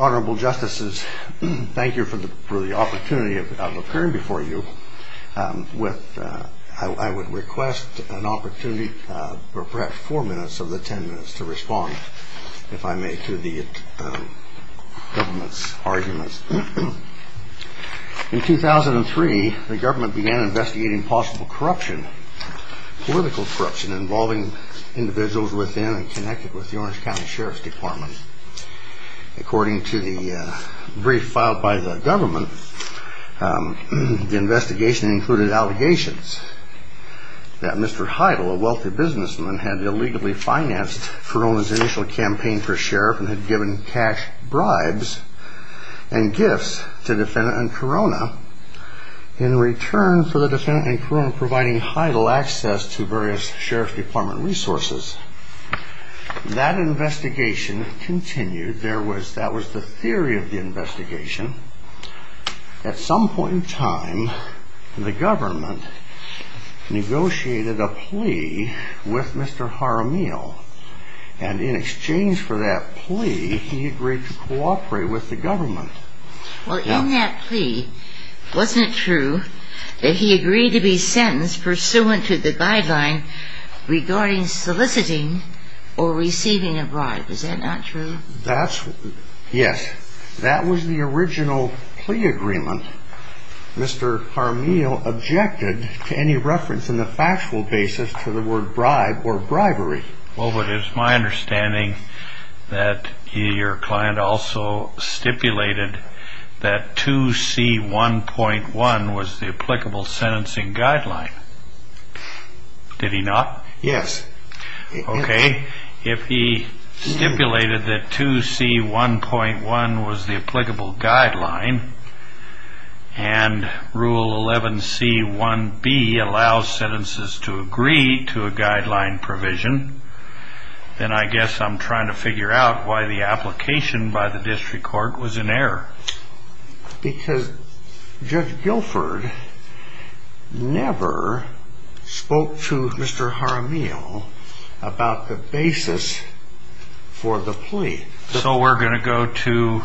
Honorable Justices, Thank you for the opportunity of appearing before you. I would request an opportunity for perhaps four minutes of the ten minutes to respond, if I may, to the government's arguments. In 2003, the government began investigating possible corruption, political corruption involving individuals within and connected with the Orange County Sheriff's Department. According to the brief filed by the government, the investigation included allegations that Mr. Heidel, a wealthy businessman, had illegally financed Corona's initial campaign for Sheriff and had given cash, bribes, and gifts to the defendant and Corona in return for the defendant and Corona providing Heidel access to various Sheriff's Department resources. That investigation continued. That was the theory of the investigation. At some point in time, the government negotiated a plea with Mr. Jaramillo, and in exchange for that plea, he agreed to cooperate with the government. Well, in that plea, wasn't it true that he agreed to be sentenced pursuant to the guideline regarding soliciting or receiving a bribe? Is that not true? Yes, that was the original plea agreement. Mr. Jaramillo objected to any reference in the factual basis to the word bribe or bribery. Well, it is my understanding that your client also stipulated that 2C1.1 was the applicable sentencing guideline. Did he not? Yes. Because Judge Guilford never spoke to Mr. Jaramillo about the basis for the plea. So we're going to go to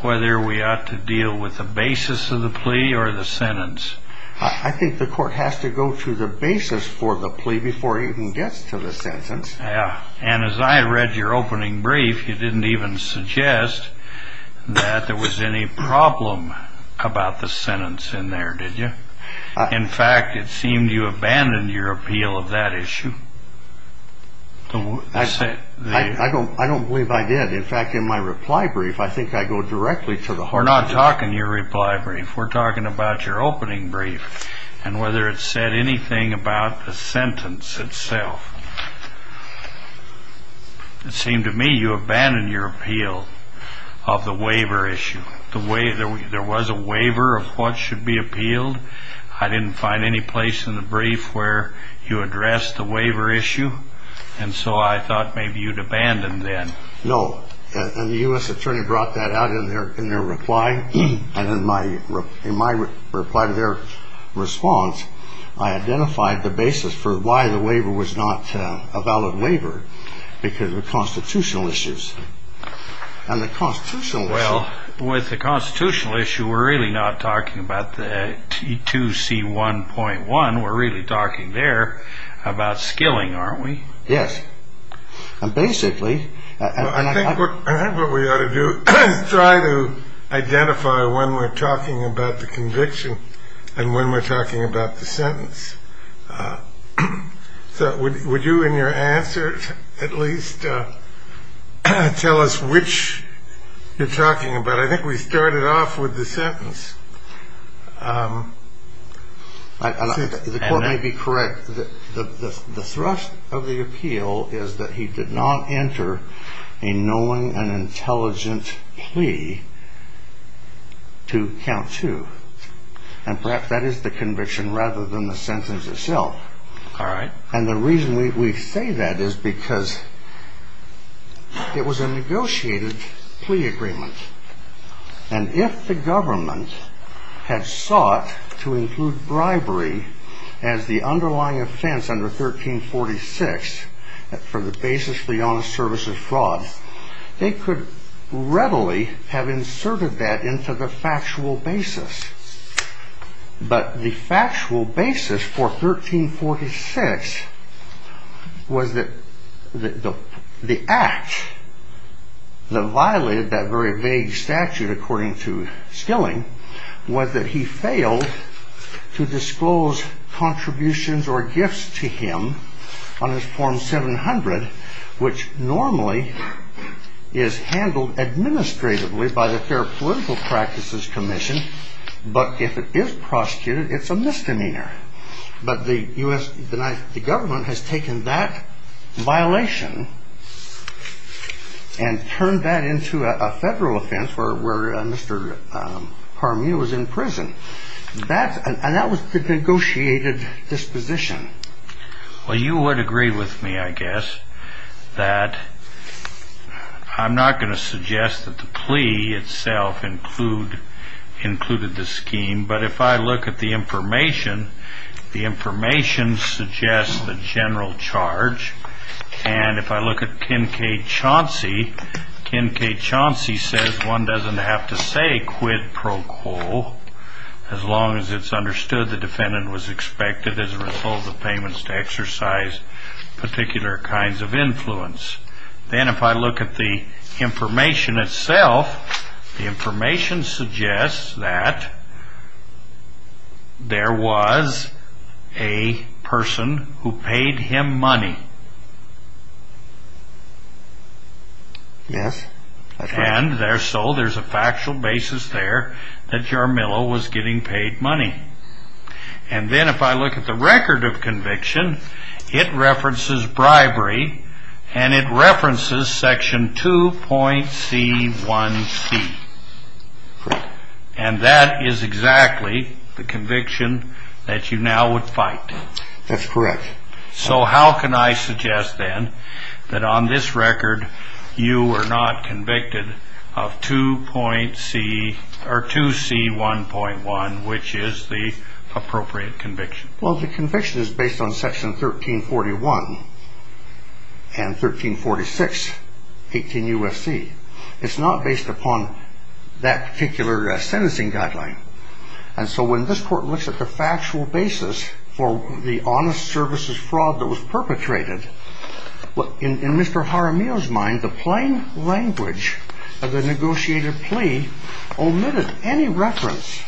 whether we ought to deal with the basis of the plea or the sentence. I think the court has to go to the basis for the plea before it even gets to the sentence. And as I read your opening brief, you didn't even suggest that there was any problem about the sentence in there, did you? In fact, it seemed you abandoned your appeal of that issue. I don't believe I did. In fact, in my reply brief, I think I go directly to the heart of the issue. We're not talking your reply brief. We're talking about your opening brief and whether it said anything about the sentence itself. It seemed to me you abandoned your appeal of the waiver issue. There was a waiver of what should be appealed. I didn't find any place in the brief where you addressed the waiver issue, and so I thought maybe you'd abandon then. No. And the U.S. attorney brought that out in their reply, and in my reply to their response, I identified the basis for why the waiver was not a valid waiver, because of constitutional issues. Well, with the constitutional issue, we're really not talking about the 2C1.1. We're really talking there about skilling, aren't we? Yes. And basically – I think what we ought to do is try to identify when we're talking about the conviction and when we're talking about the sentence. So would you in your answer at least tell us which you're talking about? I think we started off with the sentence. The court may be correct. The thrust of the appeal is that he did not enter a knowing and intelligent plea to count two. And perhaps that is the conviction rather than the sentence itself. All right. And the reason we say that is because it was a negotiated plea agreement. And if the government had sought to include bribery as the underlying offense under 1346 for the basis for the honest service of fraud, they could readily have inserted that into the factual basis. But the factual basis for 1346 was that the act that violated that very vague statute, according to skilling, was that he failed to disclose contributions or gifts to him on his form 700, which normally is handled administratively by the Fair Political Practices Commission. But if it is prosecuted, it's a misdemeanor. Well, you would agree with me, I guess, that I'm not going to suggest that the plea itself include included the scheme. But if I look at the information, the information suggests the general charge. And if I look at Kincaid-Chauncey, Kincaid-Chauncey says one doesn't have to say quid pro quo as long as it's understood the defendant was expected as a result of the payments to exercise particular kinds of influence. Then if I look at the information itself, the information suggests that there was a person who paid him money. Yes, that's correct. And so there's a factual basis there that Jarmillo was getting paid money. And then if I look at the record of conviction, it references bribery and it references section 2.C1C. And that is exactly the conviction that you now would fight. That's correct. So how can I suggest then that on this record you are not convicted of 2.C1.1, which is the appropriate conviction? Well, the conviction is based on section 1341 and 1346, 18 U.S.C. It's not based upon that particular sentencing guideline. And so when this Court looks at the factual basis for the honest services fraud that was perpetrated, in Mr. Jarmillo's mind, the plain language of the negotiated plea omitted any reference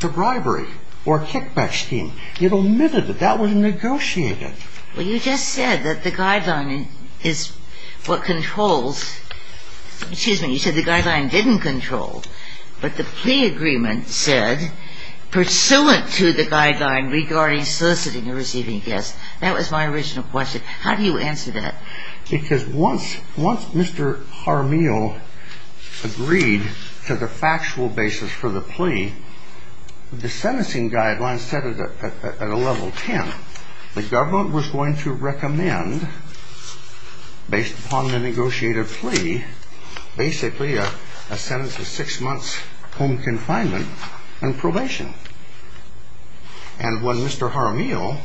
to bribery or kickback scheme. It omitted it. That was negotiated. Well, you just said that the guideline is what controls – excuse me, you said the guideline didn't control, but the plea agreement said, pursuant to the guideline regarding soliciting or receiving guests. That was my original question. How do you answer that? Because once Mr. Jarmillo agreed to the factual basis for the plea, the sentencing guideline set it at a level 10. The government was going to recommend, based upon the negotiated plea, basically a sentence of six months home confinement and probation. And when Mr. Jarmillo,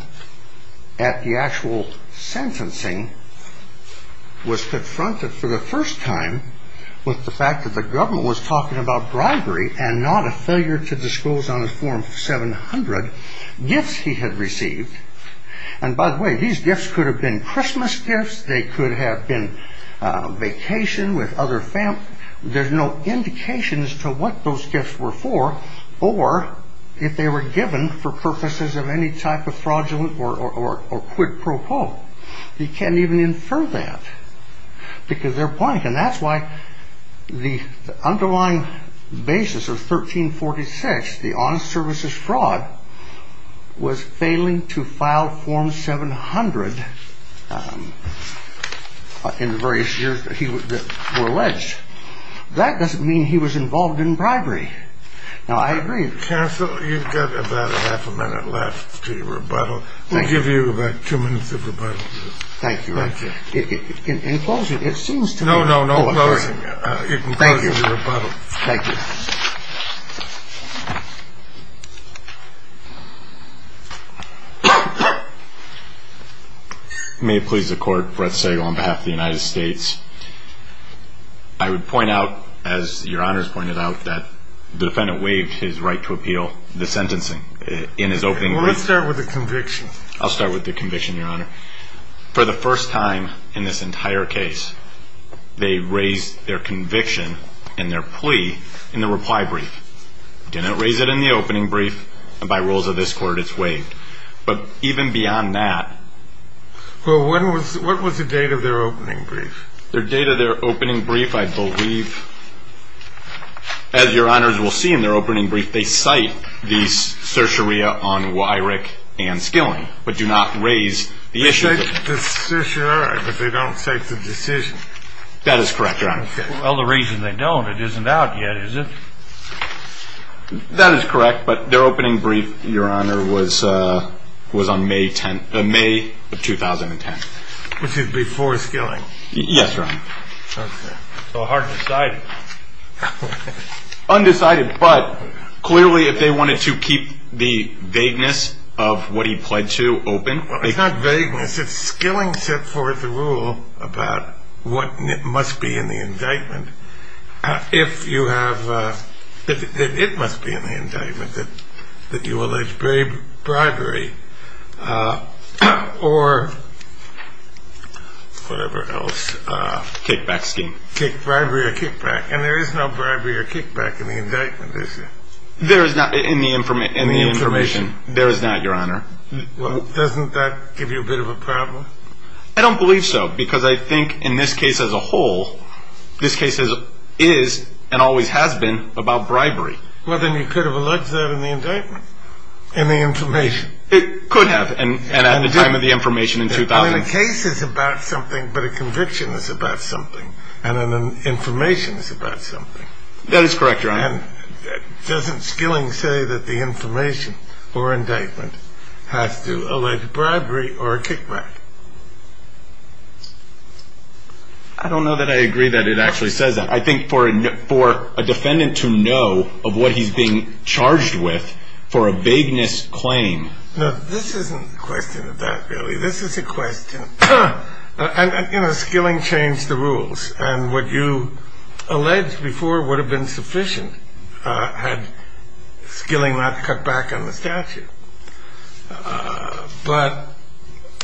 at the actual sentencing, was confronted for the first time with the fact that the government was talking about bribery and not a failure to disclose on a form 700 gifts he had received – and by the way, these gifts could have been Christmas gifts, they could have been vacation with other family – there's no indication as to what those gifts were for, or if they were given for purposes of any type of fraudulent or quid pro quo. He can't even infer that, because they're blank. And that's why the underlying basis of 1346, the honest services fraud, was failing to file form 700 in the various years that were alleged. That doesn't mean he was involved in bribery. Now, I agree – Counsel, you've got about a half a minute left to your rebuttal. We'll give you about two minutes of rebuttal. Thank you. In closing, it seems to me – No, no, no. In closing, you can close your rebuttal. Thank you. Thank you. May it please the Court, Brett Segal on behalf of the United States. I would point out, as Your Honors pointed out, that the defendant waived his right to appeal the sentencing in his opening plea. Well, let's start with the conviction. I'll start with the conviction, Your Honor. For the first time in this entire case, they raised their conviction in their plea in the reply brief. They didn't raise it in the opening brief, and by rules of this Court, it's waived. But even beyond that – Well, what was the date of their opening brief? The date of their opening brief, I believe, as Your Honors will see in their opening brief, they cite the certiorari on Weyrich and Skilling, but do not raise the issue. They cite the certiorari, but they don't cite the decision. That is correct, Your Honor. Well, the reason they don't, it isn't out yet, is it? That is correct, but their opening brief, Your Honor, was on May 10th – May of 2010. Which is before Skilling. Yes, Your Honor. Okay. So hard to cite. Undecided, but clearly if they wanted to keep the vagueness of what he pled to open – Well, it's not vagueness. It's Skilling set forth a rule about what must be in the indictment if you have – that it must be in the indictment that you allege bribery or whatever else. Kickback scheme. Bribery or kickback. And there is no bribery or kickback in the indictment, is there? There is not in the information. There is not, Your Honor. Well, doesn't that give you a bit of a problem? I don't believe so, because I think in this case as a whole, this case is and always has been about bribery. Well, then you could have alleged that in the indictment. In the information. It could have, and at the time of the information in 2000. A case is about something, but a conviction is about something, and an information is about something. That is correct, Your Honor. And doesn't Skilling say that the information or indictment has to allege bribery or a kickback? I don't know that I agree that it actually says that. I think for a defendant to know of what he's being charged with for a vagueness claim – No, this isn't a question of that, really. This is a question – and, you know, Skilling changed the rules, and what you alleged before would have been sufficient had Skilling not cut back on the statute. But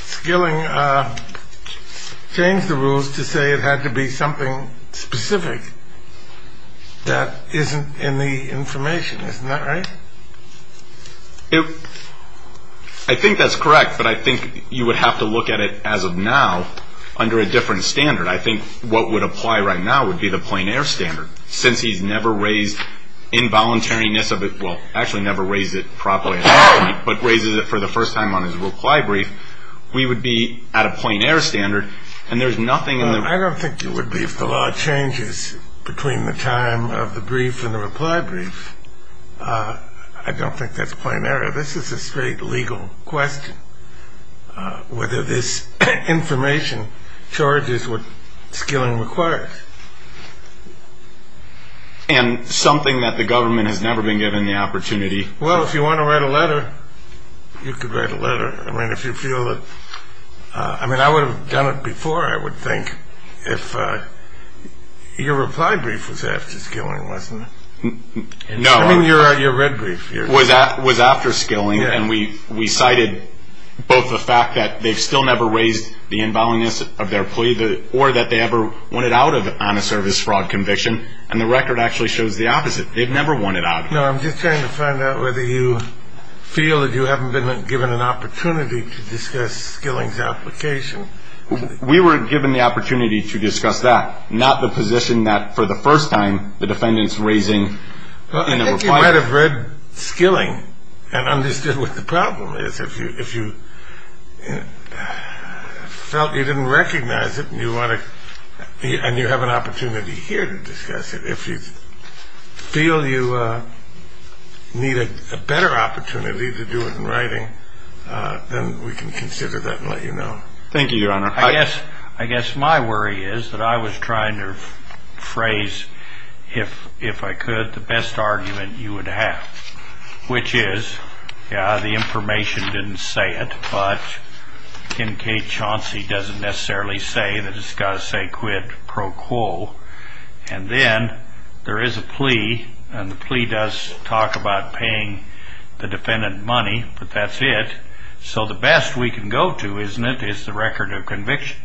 Skilling changed the rules to say it had to be something specific that isn't in the information. Isn't that right? I think that's correct, but I think you would have to look at it as of now under a different standard. I think what would apply right now would be the plein air standard. Since he's never raised involuntariness of it – well, actually never raised it properly, but raises it for the first time on his reply brief, we would be at a plein air standard, and there's nothing in the – I don't think that's plein air. This is a straight legal question, whether this information charges what Skilling requires. And something that the government has never been given the opportunity – Well, if you want to write a letter, you could write a letter. I mean, if you feel that – I mean, I would have done it before, I would think, if your reply brief was after Skilling, wasn't it? No. I mean, your red brief. It was after Skilling, and we cited both the fact that they've still never raised the involuntariness of their plea, or that they ever want it out on a service fraud conviction, and the record actually shows the opposite. They've never wanted it out. No, I'm just trying to find out whether you feel that you haven't been given an opportunity to discuss Skilling's application. We were given the opportunity to discuss that, not the position that, for the first time, the defendant's raising – I think you might have read Skilling and understood what the problem is. If you felt you didn't recognize it and you want to – and you have an opportunity here to discuss it. If you feel you need a better opportunity to do it in writing, then we can consider that and let you know. Thank you, Your Honor. I guess my worry is that I was trying to phrase, if I could, the best argument you would have, which is, yeah, the information didn't say it, but Kincaid Chauncey doesn't necessarily say that it's got to say quid pro quo. And then there is a plea, and the plea does talk about paying the defendant money, but that's it. So the best we can go to, isn't it, is the record of conviction?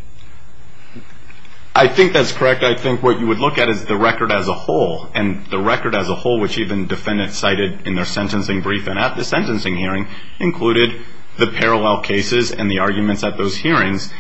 I think that's correct. I think what you would look at is the record as a whole, and the record as a whole, which even defendants cited in their sentencing brief and at the sentencing hearing, included the parallel cases and the arguments at those hearings.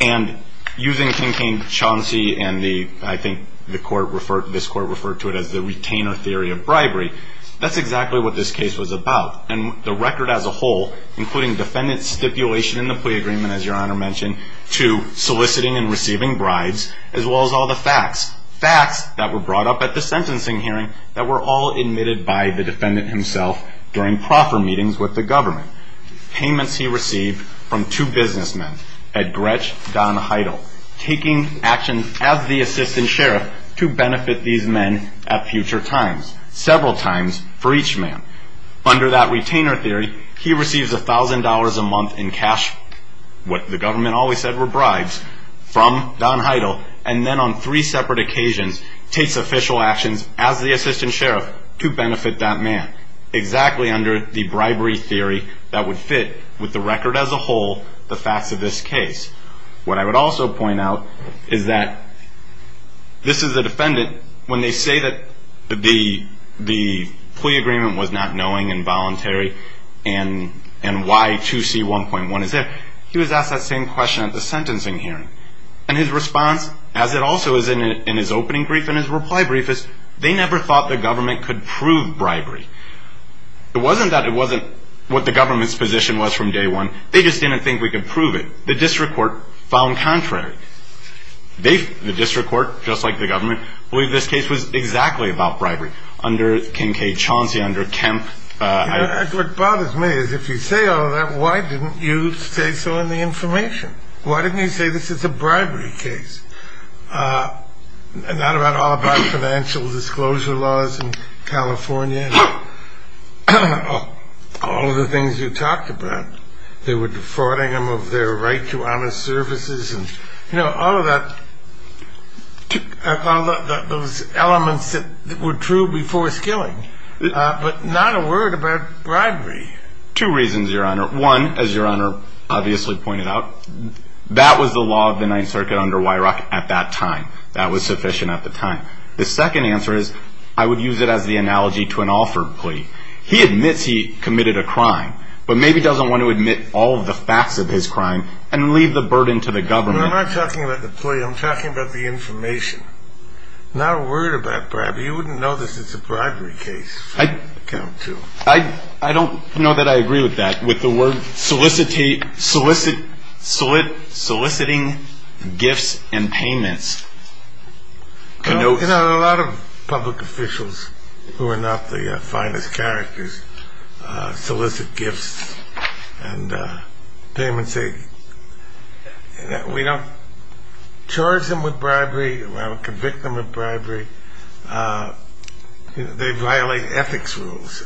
And using Kincaid Chauncey and the – I think the court referred – this court referred to it as the retainer theory of bribery. That's exactly what this case was about. And the record as a whole, including defendant stipulation in the plea agreement, as Your Honor mentioned, to soliciting and receiving bribes, as well as all the facts, facts that were brought up at the sentencing hearing that were all admitted by the defendant himself during proper meetings with the government. Payments he received from two businessmen, Ed Gretch, Don Heidel, taking action as the assistant sheriff to benefit these men at future times, several times for each man. Under that retainer theory, he receives $1,000 a month in cash, what the government always said were bribes, from Don Heidel, and then on three separate occasions takes official actions as the assistant sheriff to benefit that man. Exactly under the bribery theory that would fit with the record as a whole, the facts of this case. What I would also point out is that this is the defendant, when they say that the plea agreement was not knowing and voluntary and why 2C1.1 is there, he was asked that same question at the sentencing hearing. And his response, as it also is in his opening brief and his reply brief, is they never thought the government could prove bribery. It wasn't that it wasn't what the government's position was from day one. They just didn't think we could prove it. The district court found contrary. The district court, just like the government, believed this case was exactly about bribery. Under Kincaid Chauncey, under Kemp. What bothers me is if you say all that, why didn't you say so in the information? Why didn't you say this is a bribery case? Not at all about financial disclosure laws in California. All of the things you talked about, they were defrauding them of their right to honest services. All of those elements that were true before skilling, but not a word about bribery. Two reasons, Your Honor. One, as Your Honor obviously pointed out, that was the law of the Ninth Circuit under Weirach at that time. That was sufficient at the time. The second answer is I would use it as the analogy to an Alford plea. He admits he committed a crime, but maybe doesn't want to admit all of the facts of his crime and leave the burden to the government. I'm not talking about the plea. I'm talking about the information. Not a word about bribery. You wouldn't know this is a bribery case. I don't know that I agree with that, with the word soliciting gifts and payments. A lot of public officials who are not the finest characters solicit gifts and payments. We don't charge them with bribery. We don't convict them of bribery. They violate ethics rules.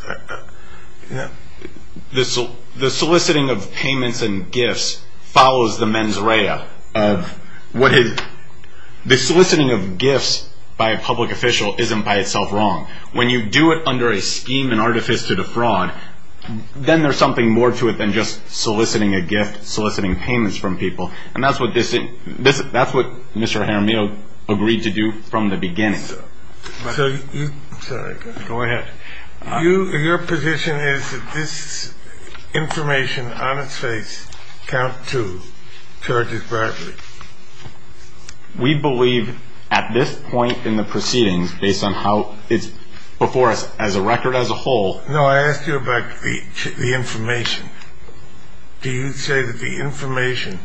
The soliciting of payments and gifts follows the mens rea. The soliciting of gifts by a public official isn't by itself wrong. When you do it under a scheme and artifice to defraud, then there's something more to it than just soliciting a gift, soliciting payments from people. And that's what Mr. Jaramillo agreed to do from the beginning. I'm sorry. Go ahead. Your position is that this information on its face, count two, charges bribery? We believe at this point in the proceedings, based on how it's before us as a record, as a whole. No, I asked you about the information. Do you say that the information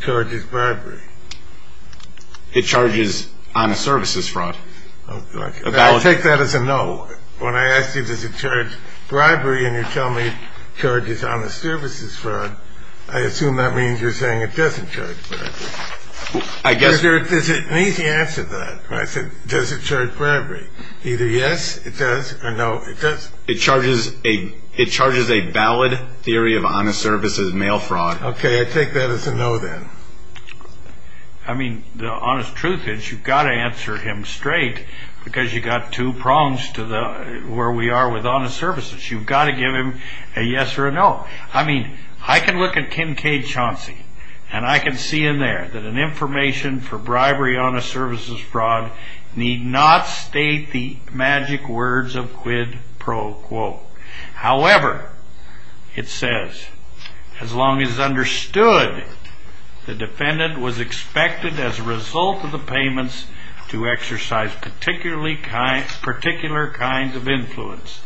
charges bribery? It charges honest services fraud. I'll take that as a no. When I asked you, does it charge bribery, and you tell me it charges honest services fraud, I assume that means you're saying it doesn't charge bribery. I guess. There's an easy answer to that. I said, does it charge bribery? Either yes, it does, or no, it doesn't. It charges a valid theory of honest services mail fraud. Okay, I take that as a no, then. I mean, the honest truth is you've got to answer him straight, because you've got two prongs to where we are with honest services. You've got to give him a yes or a no. I mean, I can look at Kincaid Chauncey, and I can see in there that an information for bribery, honest services fraud, need not state the magic words of quid pro quo. However, it says, as long as understood, the defendant was expected as a result of the payments to exercise particular kinds of influence.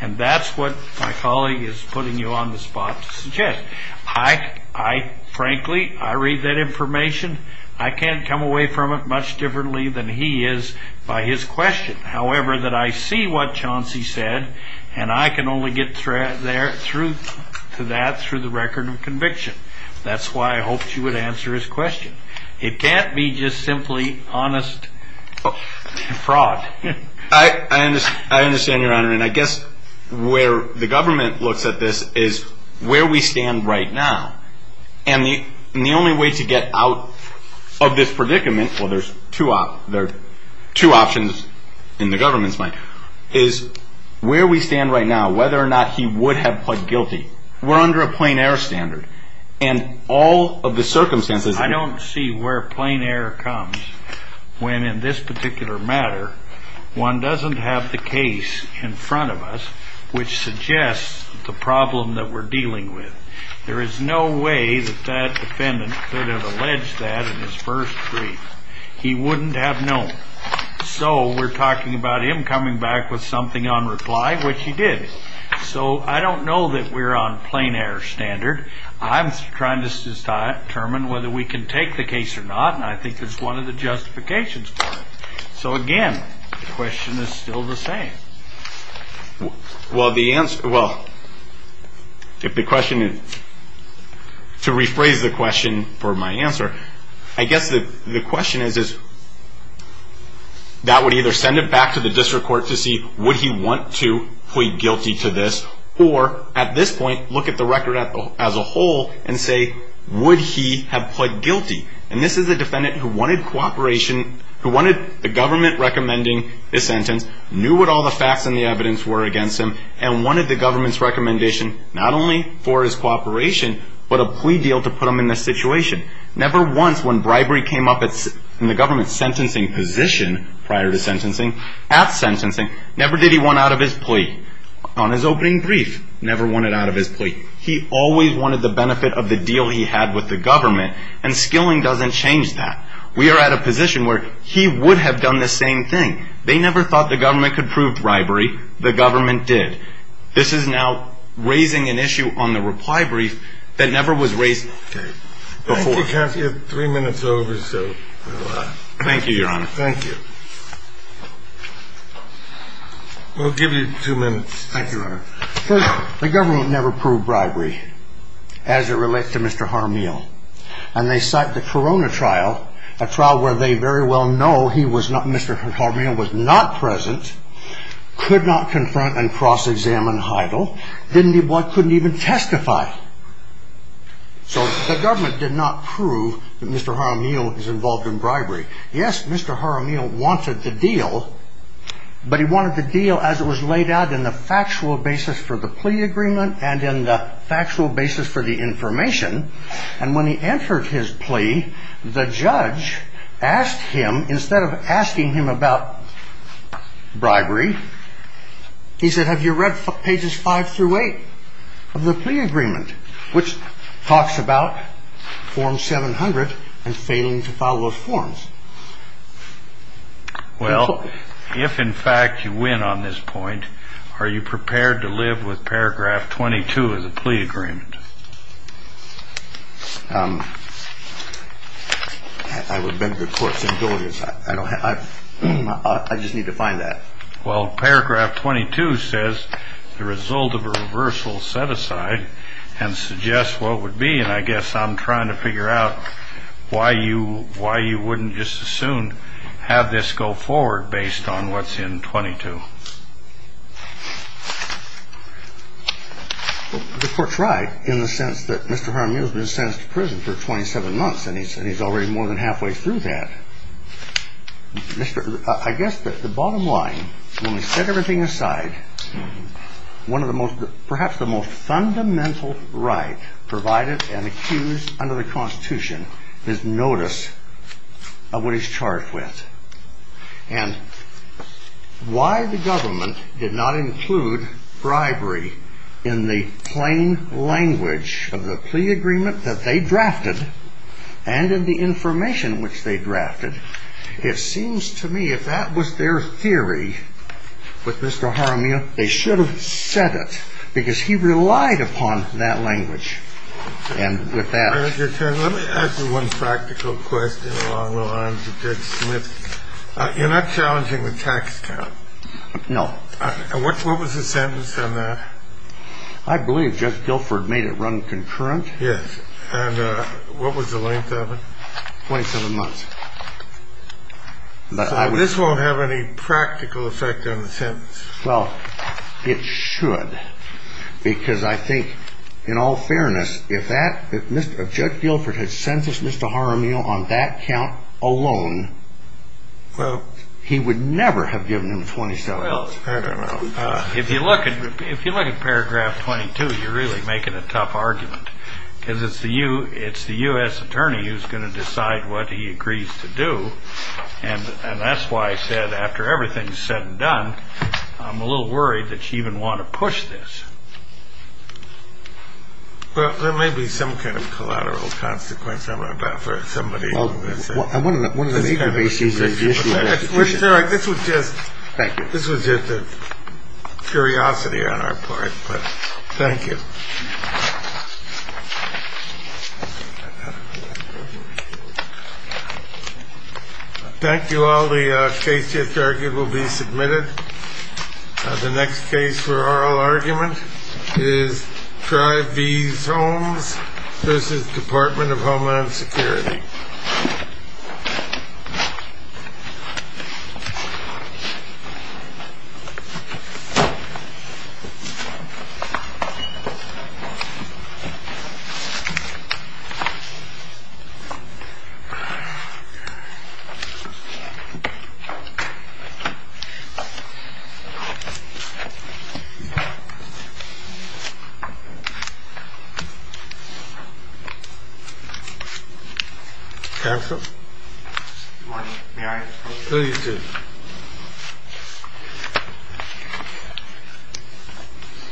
And that's what my colleague is putting you on the spot to suggest. I frankly, I read that information. I can't come away from it much differently than he is by his question. However, that I see what Chauncey said, and I can only get through to that through the record of conviction. That's why I hoped you would answer his question. It can't be just simply honest fraud. I understand, Your Honor, and I guess where the government looks at this is where we stand right now. And the only way to get out of this predicament, well, there are two options in the government's mind, is where we stand right now, whether or not he would have pled guilty. We're under a plain air standard, and all of the circumstances. I don't see where plain air comes when, in this particular matter, one doesn't have the case in front of us which suggests the problem that we're dealing with. There is no way that that defendant could have alleged that in his first brief. He wouldn't have known. So we're talking about him coming back with something on reply, which he did. So I don't know that we're on plain air standard. I'm trying to determine whether we can take the case or not, and I think there's one of the justifications for it. So again, the question is still the same. Well, to rephrase the question for my answer, I guess the question is that would either send it back to the district court to see, would he want to plead guilty to this? Or at this point, look at the record as a whole and say, would he have pled guilty? And this is a defendant who wanted cooperation, who wanted the government recommending his sentence, knew what all the facts and the evidence were against him, and wanted the government's recommendation not only for his cooperation, but a plea deal to put him in this situation. Never once when bribery came up in the government's sentencing position prior to sentencing, at sentencing, never did he want out of his plea. On his opening brief, never wanted out of his plea. He always wanted the benefit of the deal he had with the government, and skilling doesn't change that. We are at a position where he would have done the same thing. They never thought the government could prove bribery. The government did. This is now raising an issue on the reply brief that never was raised before. Thank you, counsel. You have three minutes over. Thank you, Your Honor. Thank you. We'll give you two minutes. Thank you, Your Honor. The government never proved bribery as it relates to Mr. Harmeal. And they cite the Corona trial, a trial where they very well know Mr. Harmeal was not present, could not confront and cross-examine Heidel, couldn't even testify. So the government did not prove that Mr. Harmeal is involved in bribery. Yes, Mr. Harmeal wanted the deal, but he wanted the deal as it was laid out in the factual basis for the plea agreement and in the factual basis for the information. And when he entered his plea, the judge asked him, instead of asking him about bribery, he said, have you read pages five through eight of the plea agreement, which talks about form 700 and failing to follow those forms? Well, if in fact you win on this point, are you prepared to live with paragraph 22 of the plea agreement? I would beg the court's indulgence. I just need to find that. Well, paragraph 22 says the result of a reversal set aside and suggests what would be, and I guess I'm trying to figure out why you wouldn't just as soon have this go forward based on what's in 22. The court's right in the sense that Mr. Harmeal has been sentenced to prison for 27 months, and he's already more than halfway through that. I guess that the bottom line, when we set everything aside, perhaps the most fundamental right provided and accused under the Constitution is notice of what he's charged with. And why the government did not include bribery in the plain language of the plea agreement that they drafted and in the information which they drafted, it seems to me if that was their theory with Mr. Harmeal, they should have said it because he relied upon that language. And with that. Let me ask you one practical question along the lines of Judge Smith. You're not challenging the tax cut. No. What was the sentence on that? I believe Judge Guilford made it run concurrent. Yes. And what was the length of it? 27 months. This won't have any practical effect on the sentence. Well, it should because I think in all fairness, if Judge Guilford had sentenced Mr. Harmeal on that count alone, he would never have given him 27 months. If you look at paragraph 22, you're really making a tough argument because it's the U.S. attorney who's going to decide what he agrees to do. And that's why I said after everything is said and done, I'm a little worried that you even want to push this. Well, there may be some kind of collateral consequence. I don't know about for somebody. One of the major issues is the issue of execution. Thank you. This was just a curiosity on our part, but thank you. Thank you all. The case just argued will be submitted. The next case for oral argument is Drive V's Homes v. Department of Homeland Security. Thank you.